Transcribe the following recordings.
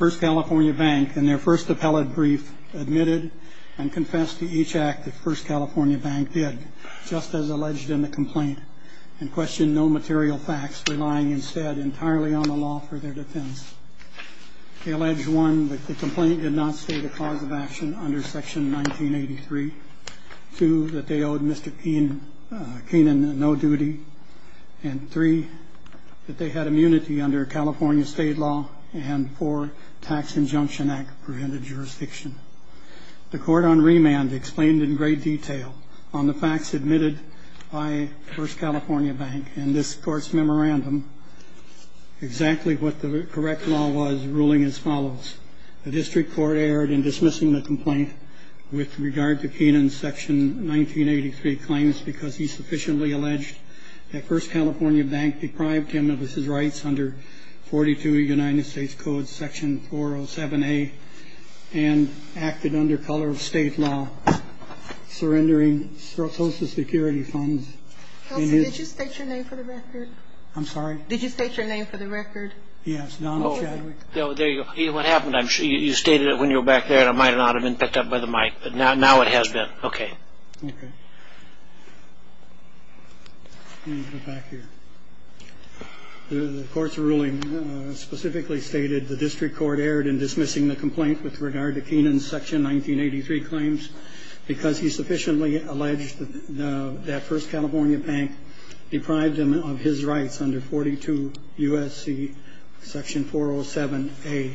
First California Bank, in their first appellate brief, admitted and confessed to each act that First California Bank did, just as alleged in the complaint, and questioned no material facts, relying instead entirely on the law for their defense. They allege, 1, that the complaint did not state a cause of action under Section 1983, 2, that they owed Mr. Keenan no duty, and 3, that they had immunity under California state law, and 4, Tax Injunction Act-prevented jurisdiction. The court on remand explained in great detail on the facts admitted by First California Bank in this court's memorandum exactly what the correct law was, ruling as follows. The district court erred in dismissing the complaint with regard to Keenan's Section 1983 claims because he sufficiently alleged that First California Bank deprived him of his rights under 42 United States Code, Section 407A, and acted under color of state law, surrendering Social Security funds. Kelsey, did you state your name for the record? I'm sorry? Did you state your name for the record? Yes, Don Chadwick. Oh, there you go. What happened, you stated it when you were back there, and it might not have been picked up by the mic, but now it has been. Okay. Okay. Let me go back here. The court's ruling specifically stated the district court erred in dismissing the complaint with regard to Keenan's Section 1983 claims because he sufficiently alleged that First California Bank deprived him of his rights under 42 U.S.C. Section 407A,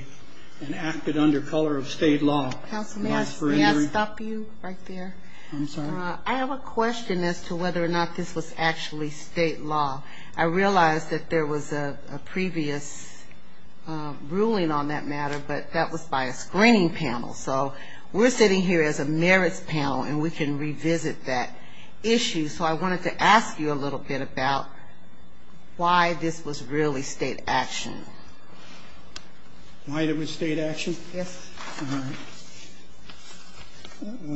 and acted under color of state law. Counsel, may I stop you right there? I'm sorry? I have a question as to whether or not this was actually state law. I realize that there was a previous ruling on that matter, but that was by a screening panel. So we're sitting here as a merits panel, and we can revisit that issue. So I wanted to ask you a little bit about why this was really state action. Why it was state action? Yes. All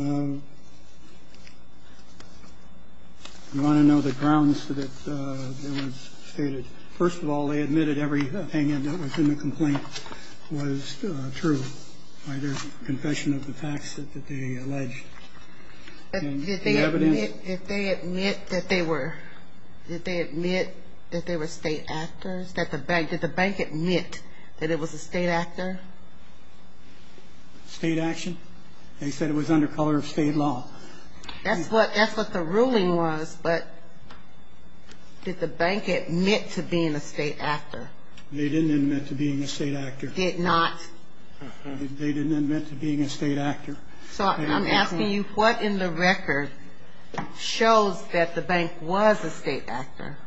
right. You want to know the grounds that it was stated? First of all, they admitted every opinion that was in the complaint was true by their confession of the facts that they alleged. Did they admit that they were state actors? Did the bank admit that it was a state actor? State action? They said it was under color of state law. That's what the ruling was, but did the bank admit to being a state actor? They didn't admit to being a state actor. Did not? They didn't admit to being a state actor. So I'm asking you, what in the record shows that the bank was a state actor?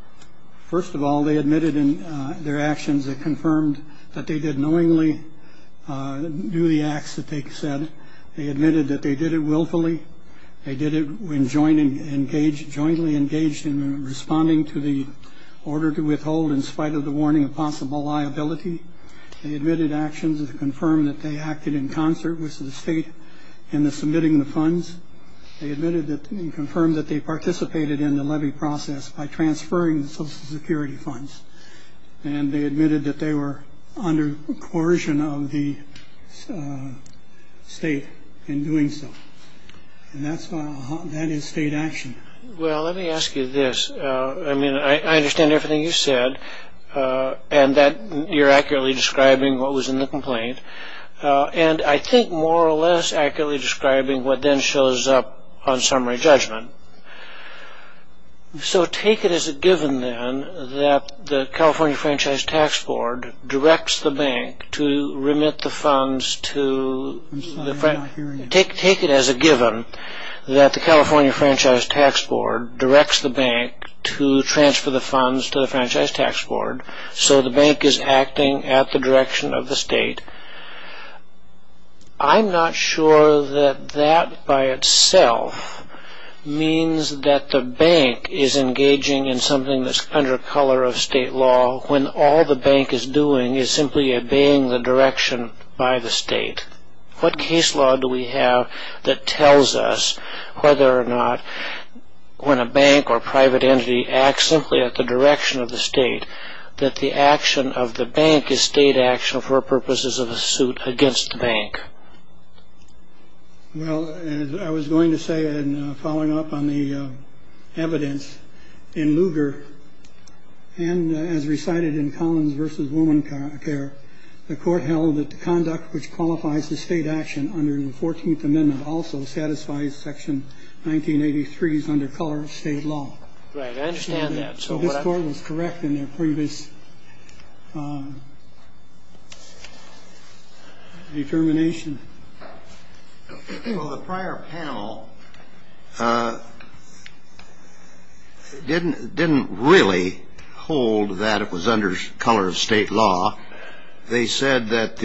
First of all, they admitted in their actions that confirmed that they did knowingly do the acts that they said. They admitted that they did it willfully. They did it when jointly engaged in responding to the order to withhold in spite of the warning of possible liability. They admitted actions that confirmed that they acted in concert with the state in the submitting the funds. They admitted that and confirmed that they participated in the levy process by transferring the Social Security funds. And they admitted that they were under coercion of the state in doing so. And that is state action. Well, let me ask you this. I mean, I understand everything you said and that you're accurately describing what was in the complaint. And I think more or less accurately describing what then shows up on summary judgment. So take it as a given then that the California Franchise Tax Board directs the bank to remit the funds to the franchise. Take it as a given that the California Franchise Tax Board directs the bank to transfer the funds to the Franchise Tax Board. So the bank is acting at the direction of the state. I'm not sure that that by itself means that the bank is engaging in something that's under color of state law when all the bank is doing is simply obeying the direction by the state. What case law do we have that tells us whether or not when a bank or private entity acts simply at the direction of the state that the action of the bank is state action for purposes of a suit against the bank? Well, as I was going to say in following up on the evidence in Lugar and as recited in Collins v. Womancare, the Court held that the conduct which qualifies as state action under the Fourteenth Amendment also satisfies Section 1983's under color of state law. Right. I understand that. So this Court was correct in their previous determination. Well, the prior panel didn't really hold that it was under color of state law. They said that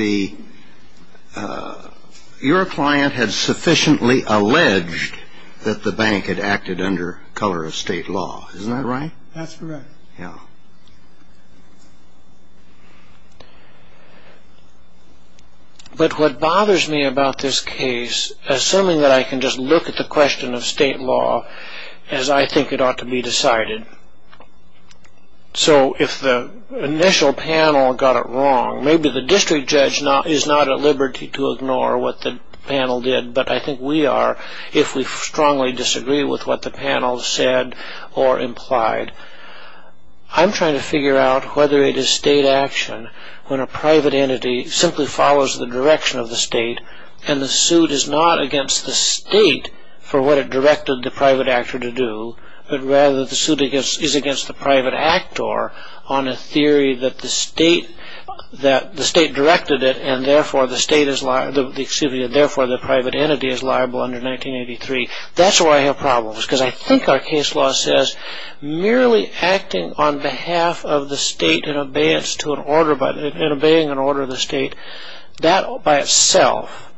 your client had sufficiently alleged that the bank had acted under color of state law. Isn't that right? That's correct. Yeah. But what bothers me about this case, assuming that I can just look at the question of state law as I think it ought to be decided, so if the initial panel got it wrong, maybe the district judge is not at liberty to ignore what the panel did, but I think we are if we strongly disagree with what the panel said or implied. I'm trying to figure out whether it is state action when a private entity simply follows the direction of the state and the suit is not against the state for what it directed the private actor to do, but rather the suit is against the private actor on a theory that the state directed it and therefore the private entity is liable under 1983. That's why I have problems because I think our case law says merely acting on behalf of the state and obeying an order of the state, that by itself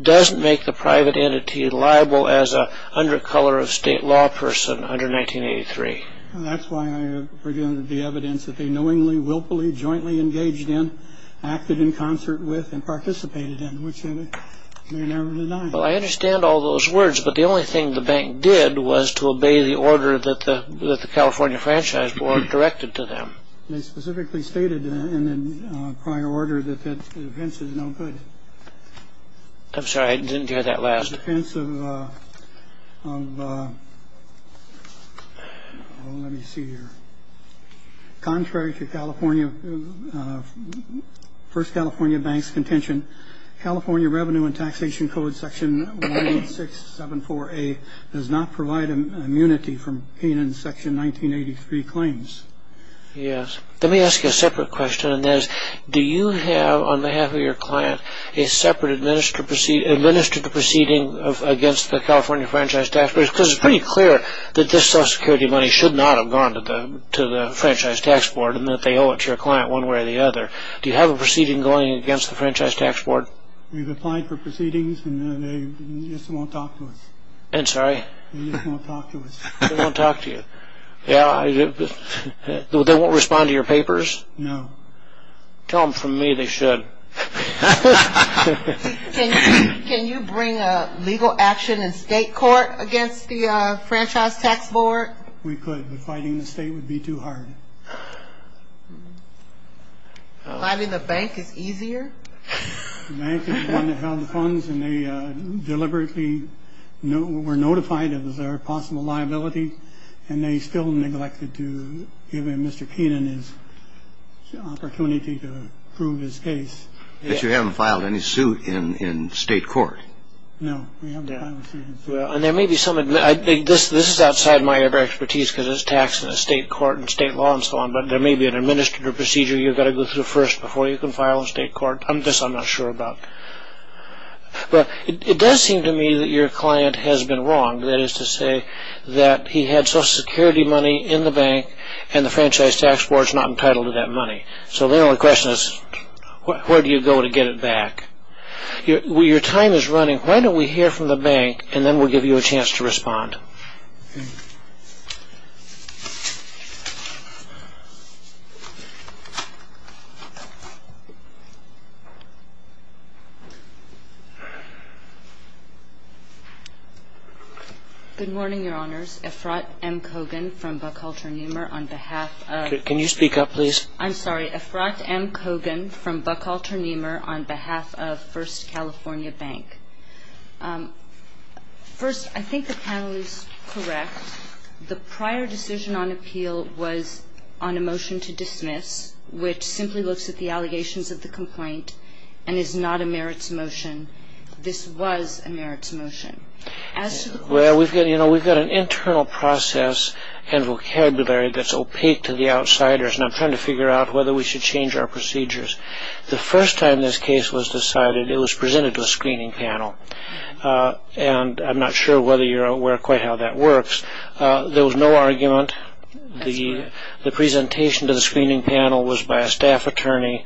doesn't make the private entity liable as an under color of state law person under 1983. That's why I have the evidence that they knowingly, willfully, jointly engaged in, acted in concert with, and participated in, which they never denied. Well, I understand all those words, but the only thing the bank did was to obey the order that the California Franchise Board directed to them. They specifically stated in prior order that the defense is no good. I'm sorry, I didn't hear that last. Let me see here. Contrary to First California Bank's contention, California Revenue and Taxation Code Section 18674A does not provide immunity from being in Section 1983 claims. Yes. Let me ask you a separate question, and that is, do you have, on behalf of your client, a separate administrative proceeding against the California Franchise Tax Board? Because it's pretty clear that this Social Security money should not have gone to the Franchise Tax Board and that they owe it to your client one way or the other. Do you have a proceeding going against the Franchise Tax Board? We've applied for proceedings, and they just won't talk to us. I'm sorry? They just won't talk to us. They won't talk to you. They won't respond to your papers? No. Tell them from me they should. Can you bring a legal action in state court against the Franchise Tax Board? We could, but fighting in the state would be too hard. Filing the bank is easier? The bank is the one that held the funds, and they deliberately were notified it was our possible liability, and they still neglected to give Mr. Keenan his opportunity to prove his case. But you haven't filed any suit in state court? No, we haven't filed a suit. This is outside my expertise because it's taxed in the state court and state law and so on, but there may be an administrative procedure you've got to go through first before you can file in state court. This I'm not sure about. It does seem to me that your client has been wrong. That is to say that he had Social Security money in the bank, and the Franchise Tax Board is not entitled to that money. So the only question is where do you go to get it back? Your time is running. Why don't we hear from the bank, and then we'll give you a chance to respond. Good morning, Your Honors. Efrat M. Kogan from Buckhalter Niemer on behalf of Can you speak up, please? I'm sorry. Efrat M. Kogan from Buckhalter Niemer on behalf of First California Bank. First, I think the panel is correct. The prior decision on appeal was on a motion to dismiss, which simply looks at the allegations of the complaint and is not a merits motion. This was a merits motion. Well, we've got an internal process and vocabulary that's opaque to the outsiders, and I'm trying to figure out whether we should change our procedures. The first time this case was decided, it was presented to a screening panel, and I'm not sure whether you're aware quite how that works. There was no argument. The presentation to the screening panel was by a staff attorney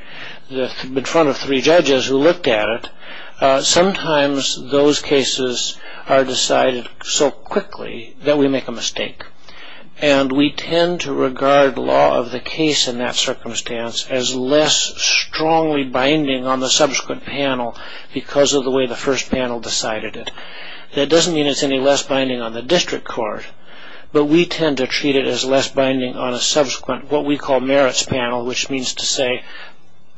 in front of three judges who looked at it. Sometimes those cases are decided so quickly that we make a mistake, and we tend to regard law of the case in that circumstance as less strongly binding on the subsequent panel because of the way the first panel decided it. That doesn't mean it's any less binding on the district court, but we tend to treat it as less binding on a subsequent what we call merits panel, which means to say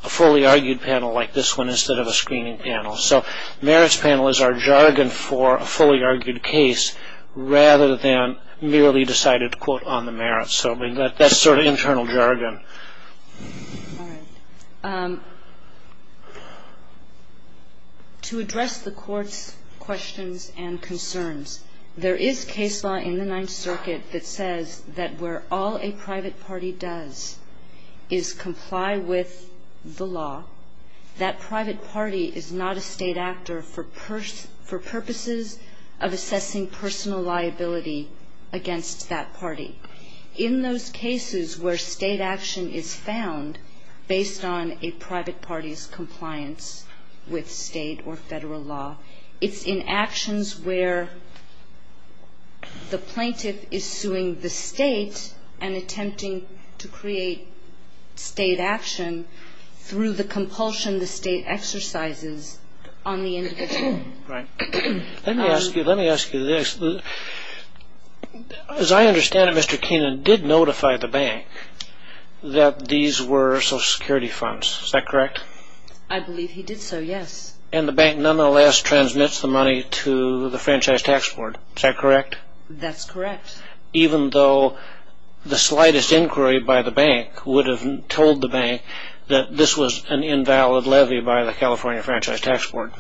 a fully argued panel like this one instead of a screening panel. So merits panel is our jargon for a fully argued case rather than merely decided to quote on the merits. So that's sort of internal jargon. All right. To address the Court's questions and concerns, there is case law in the Ninth Circuit that says that where all a private party does is comply with the law, that private party is not a State actor for purposes of assessing personal liability against that party. In those cases where State action is found based on a private party's compliance with State or Federal law, it's in actions where the plaintiff is suing the State and attempting to create State action through the compulsion the State exercises on the individual. Right. Let me ask you this. As I understand it, Mr. Keenan did notify the bank that these were Social Security funds. Is that correct? I believe he did so, yes. And the bank nonetheless transmits the money to the Franchise Tax Board. Is that correct? That's correct. Even though the slightest inquiry by the bank would have told the bank that this was an invalid levy by the California Franchise Tax Board.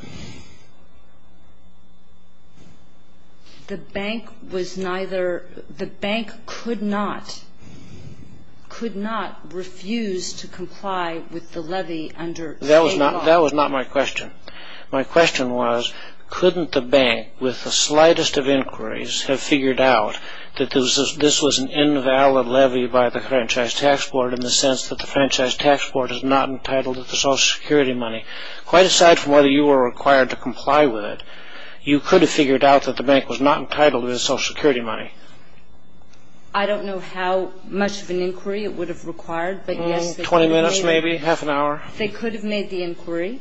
The bank could not refuse to comply with the levy under State law. That was not my question. My question was, couldn't the bank, with the slightest of inquiries, have figured out that this was an invalid levy by the Franchise Tax Board in the sense that the Franchise Tax Board is not entitled to the Social Security money? Quite aside from whether you were required to comply with it, you could have figured out that the bank was not entitled to the Social Security money. I don't know how much of an inquiry it would have required, but yes, they could have made it. Twenty minutes maybe? Half an hour? They could have made the inquiry.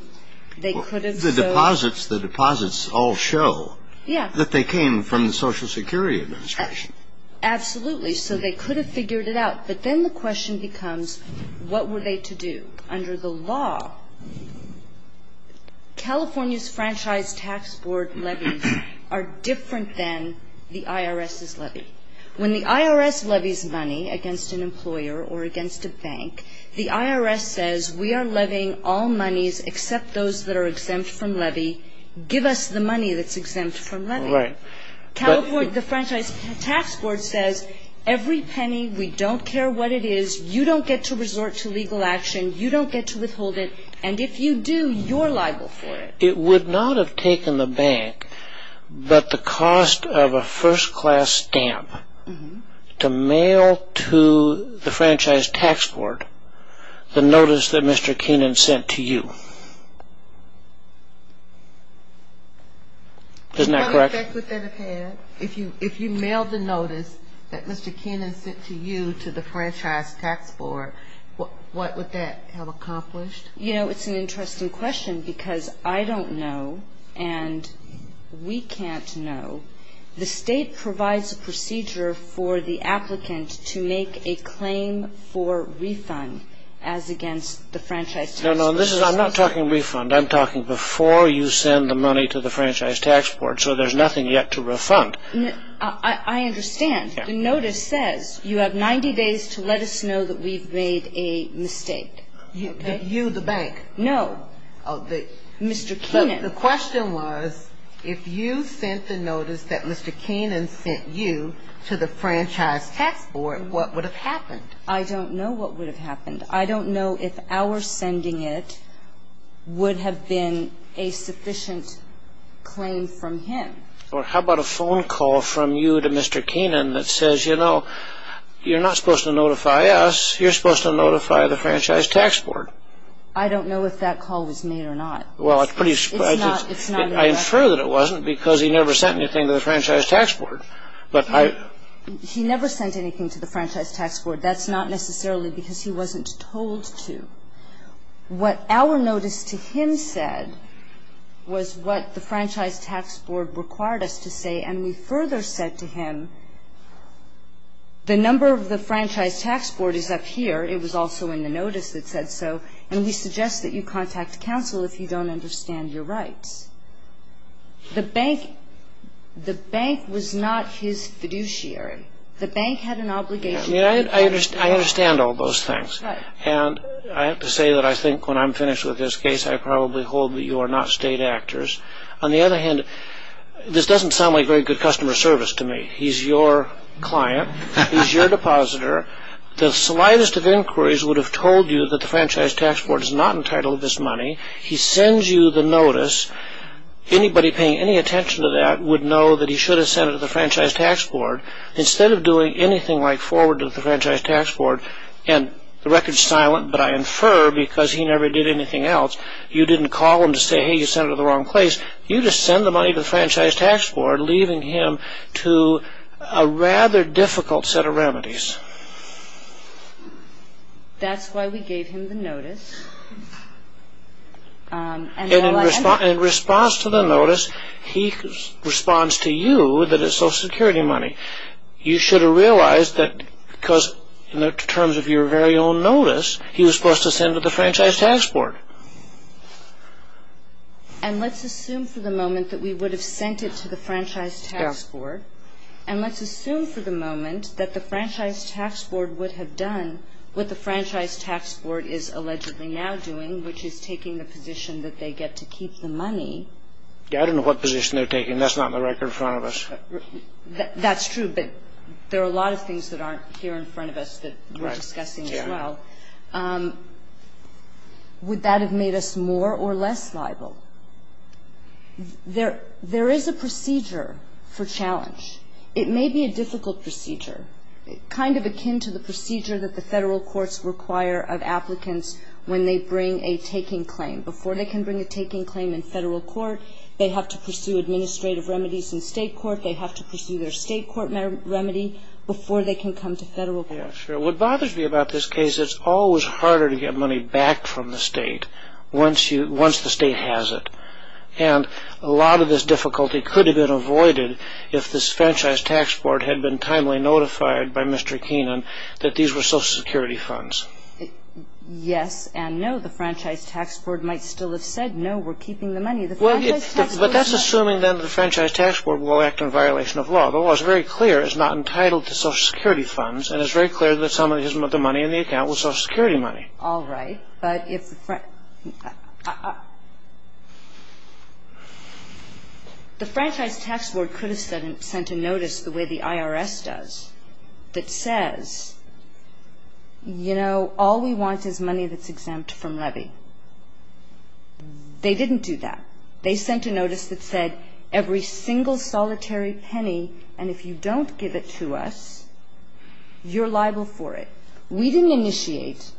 They could have. The deposits all show that they came from the Social Security Administration. Absolutely. So they could have figured it out. But then the question becomes, what were they to do? Under the law, California's Franchise Tax Board levies are different than the IRS's levy. When the IRS levies money against an employer or against a bank, the IRS says, we are levying all monies except those that are exempt from levy. Give us the money that's exempt from levy. Right. The Franchise Tax Board says, every penny, we don't care what it is, you don't get to resort to legal action, you don't get to withhold it, and if you do, you're liable for it. It would not have taken the bank but the cost of a first-class stamp to mail to the Franchise Tax Board the notice that Mr. Keenan sent to you. Isn't that correct? What effect would that have had? If you mailed the notice that Mr. Keenan sent to you to the Franchise Tax Board, what would that have accomplished? You know, it's an interesting question because I don't know and we can't know. The State provides a procedure for the applicant to make a claim for refund as against the Franchise Tax Board. No, no. I'm not talking refund. I'm talking before you send the money to the Franchise Tax Board so there's nothing yet to refund. I understand. The notice says you have 90 days to let us know that we've made a mistake. You, the bank? No, Mr. Keenan. The question was if you sent the notice that Mr. Keenan sent you to the Franchise Tax Board, what would have happened? I don't know what would have happened. I don't know if our sending it would have been a sufficient claim from him. How about a phone call from you to Mr. Keenan that says, you know, you're not supposed to notify us. You're supposed to notify the Franchise Tax Board. I don't know if that call was made or not. Well, I infer that it wasn't because he never sent anything to the Franchise Tax Board. He never sent anything to the Franchise Tax Board. That's not necessarily because he wasn't told to. What our notice to him said was what the Franchise Tax Board required us to say, and we further said to him, the number of the Franchise Tax Board is up here. It was also in the notice that said so, and we suggest that you contact counsel if you don't understand your rights. The bank was not his fiduciary. The bank had an obligation. I understand all those things. Right. And I have to say that I think when I'm finished with this case, I probably hold that you are not state actors. On the other hand, this doesn't sound like very good customer service to me. He's your client. He's your depositor. The slightest of inquiries would have told you that the Franchise Tax Board is not entitled to this money. He sends you the notice. Anybody paying any attention to that would know that he should have sent it to the Franchise Tax Board. Instead of doing anything like forward to the Franchise Tax Board, and the record's silent, but I infer because he never did anything else, you didn't call him to say, hey, you sent it to the wrong place. You just send the money to the Franchise Tax Board, leaving him to a rather difficult set of remedies. That's why we gave him the notice. And in response to the notice, he responds to you that it's Social Security money. You should have realized that because in terms of your very own notice, he was supposed to send it to the Franchise Tax Board. And let's assume for the moment that we would have sent it to the Franchise Tax Board, and let's assume for the moment that the Franchise Tax Board would have done what the Franchise Tax Board is allegedly now doing, which is taking the position that they get to keep the money. Yeah, I don't know what position they're taking. That's not in the record in front of us. That's true, but there are a lot of things that aren't here in front of us that we're discussing as well. Would that have made us more or less liable? There is a procedure for challenge. It may be a difficult procedure, kind of akin to the procedure that the Federal courts require of applicants when they bring a taking claim. Before they can bring a taking claim in Federal court, they have to pursue administrative remedies in State court. They have to pursue their State court remedy before they can come to Federal court. Sure. What bothers me about this case, it's always harder to get money back from the State once the State has it. And a lot of this difficulty could have been avoided if this Franchise Tax Board had been timely notified by Mr. Keenan that these were Social Security funds. Yes and no. The Franchise Tax Board might still have said, No, we're keeping the money. But that's assuming that the Franchise Tax Board will act in violation of law. The law is very clear. It's not entitled to Social Security funds, and it's very clear that some of the money in the account was Social Security money. All right, but if the Franchise Tax Board could have sent a notice the way the IRS does that says, you know, all we want is money that's exempt from levy. They didn't do that. They sent a notice that said every single solitary penny, and if you don't give it to us, you're liable for it. We didn't initiate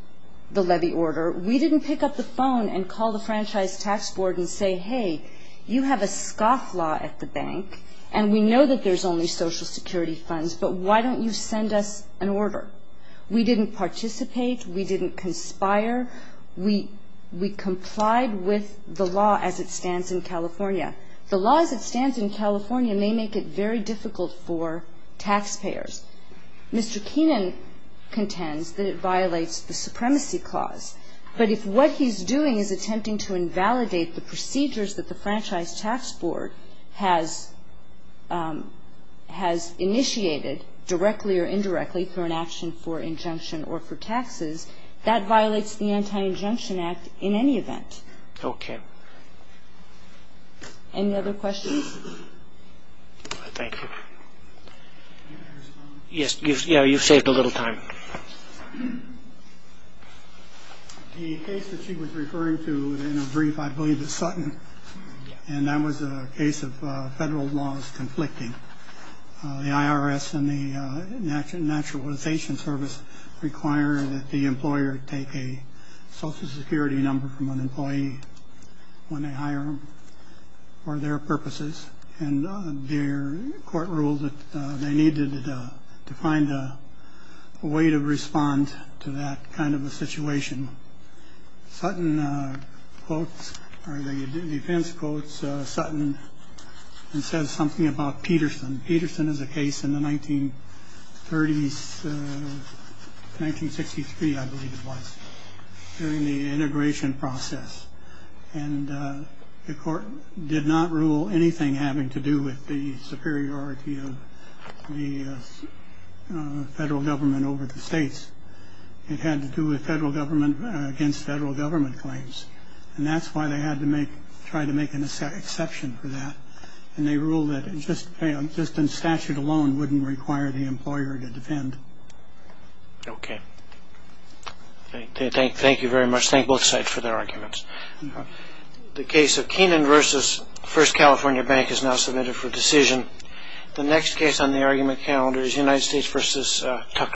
the levy order. We didn't pick up the phone and call the Franchise Tax Board and say, Hey, you have a scoff law at the bank, and we know that there's only Social Security funds, but why don't you send us an order? We didn't participate. We didn't conspire. We complied with the law as it stands in California. The law as it stands in California may make it very difficult for taxpayers. Mr. Keenan contends that it violates the supremacy clause, but if what he's doing is attempting to invalidate the procedures that the Franchise Tax Board has initiated directly or indirectly for an action for injunction or for taxes, that violates the Anti-Injunction Act in any event. Okay. Any other questions? Thank you. Yes, you've saved a little time. The case that she was referring to in her brief, I believe, is Sutton, and that was a case of federal laws conflicting. The IRS and the National Naturalization Service require that the employer take a Social Security number from an employee when they hire them for their purposes, and their court ruled that they needed to find a way to respond to that kind of a situation. Sutton quotes or the defense quotes Sutton and says something about Peterson. Peterson is a case in the 1930s, 1963, I believe it was, during the integration process, and the court did not rule anything having to do with the superiority of the federal government over the states. It had to do with federal government against federal government claims, and that's why they had to try to make an exception for that, and they ruled that just in statute alone wouldn't require the employer to defend. Okay. Thank you very much. Thank both sides for their arguments. The case of Keenan v. First California Bank is now submitted for decision. The next case on the argument calendar is United States v. Tucker.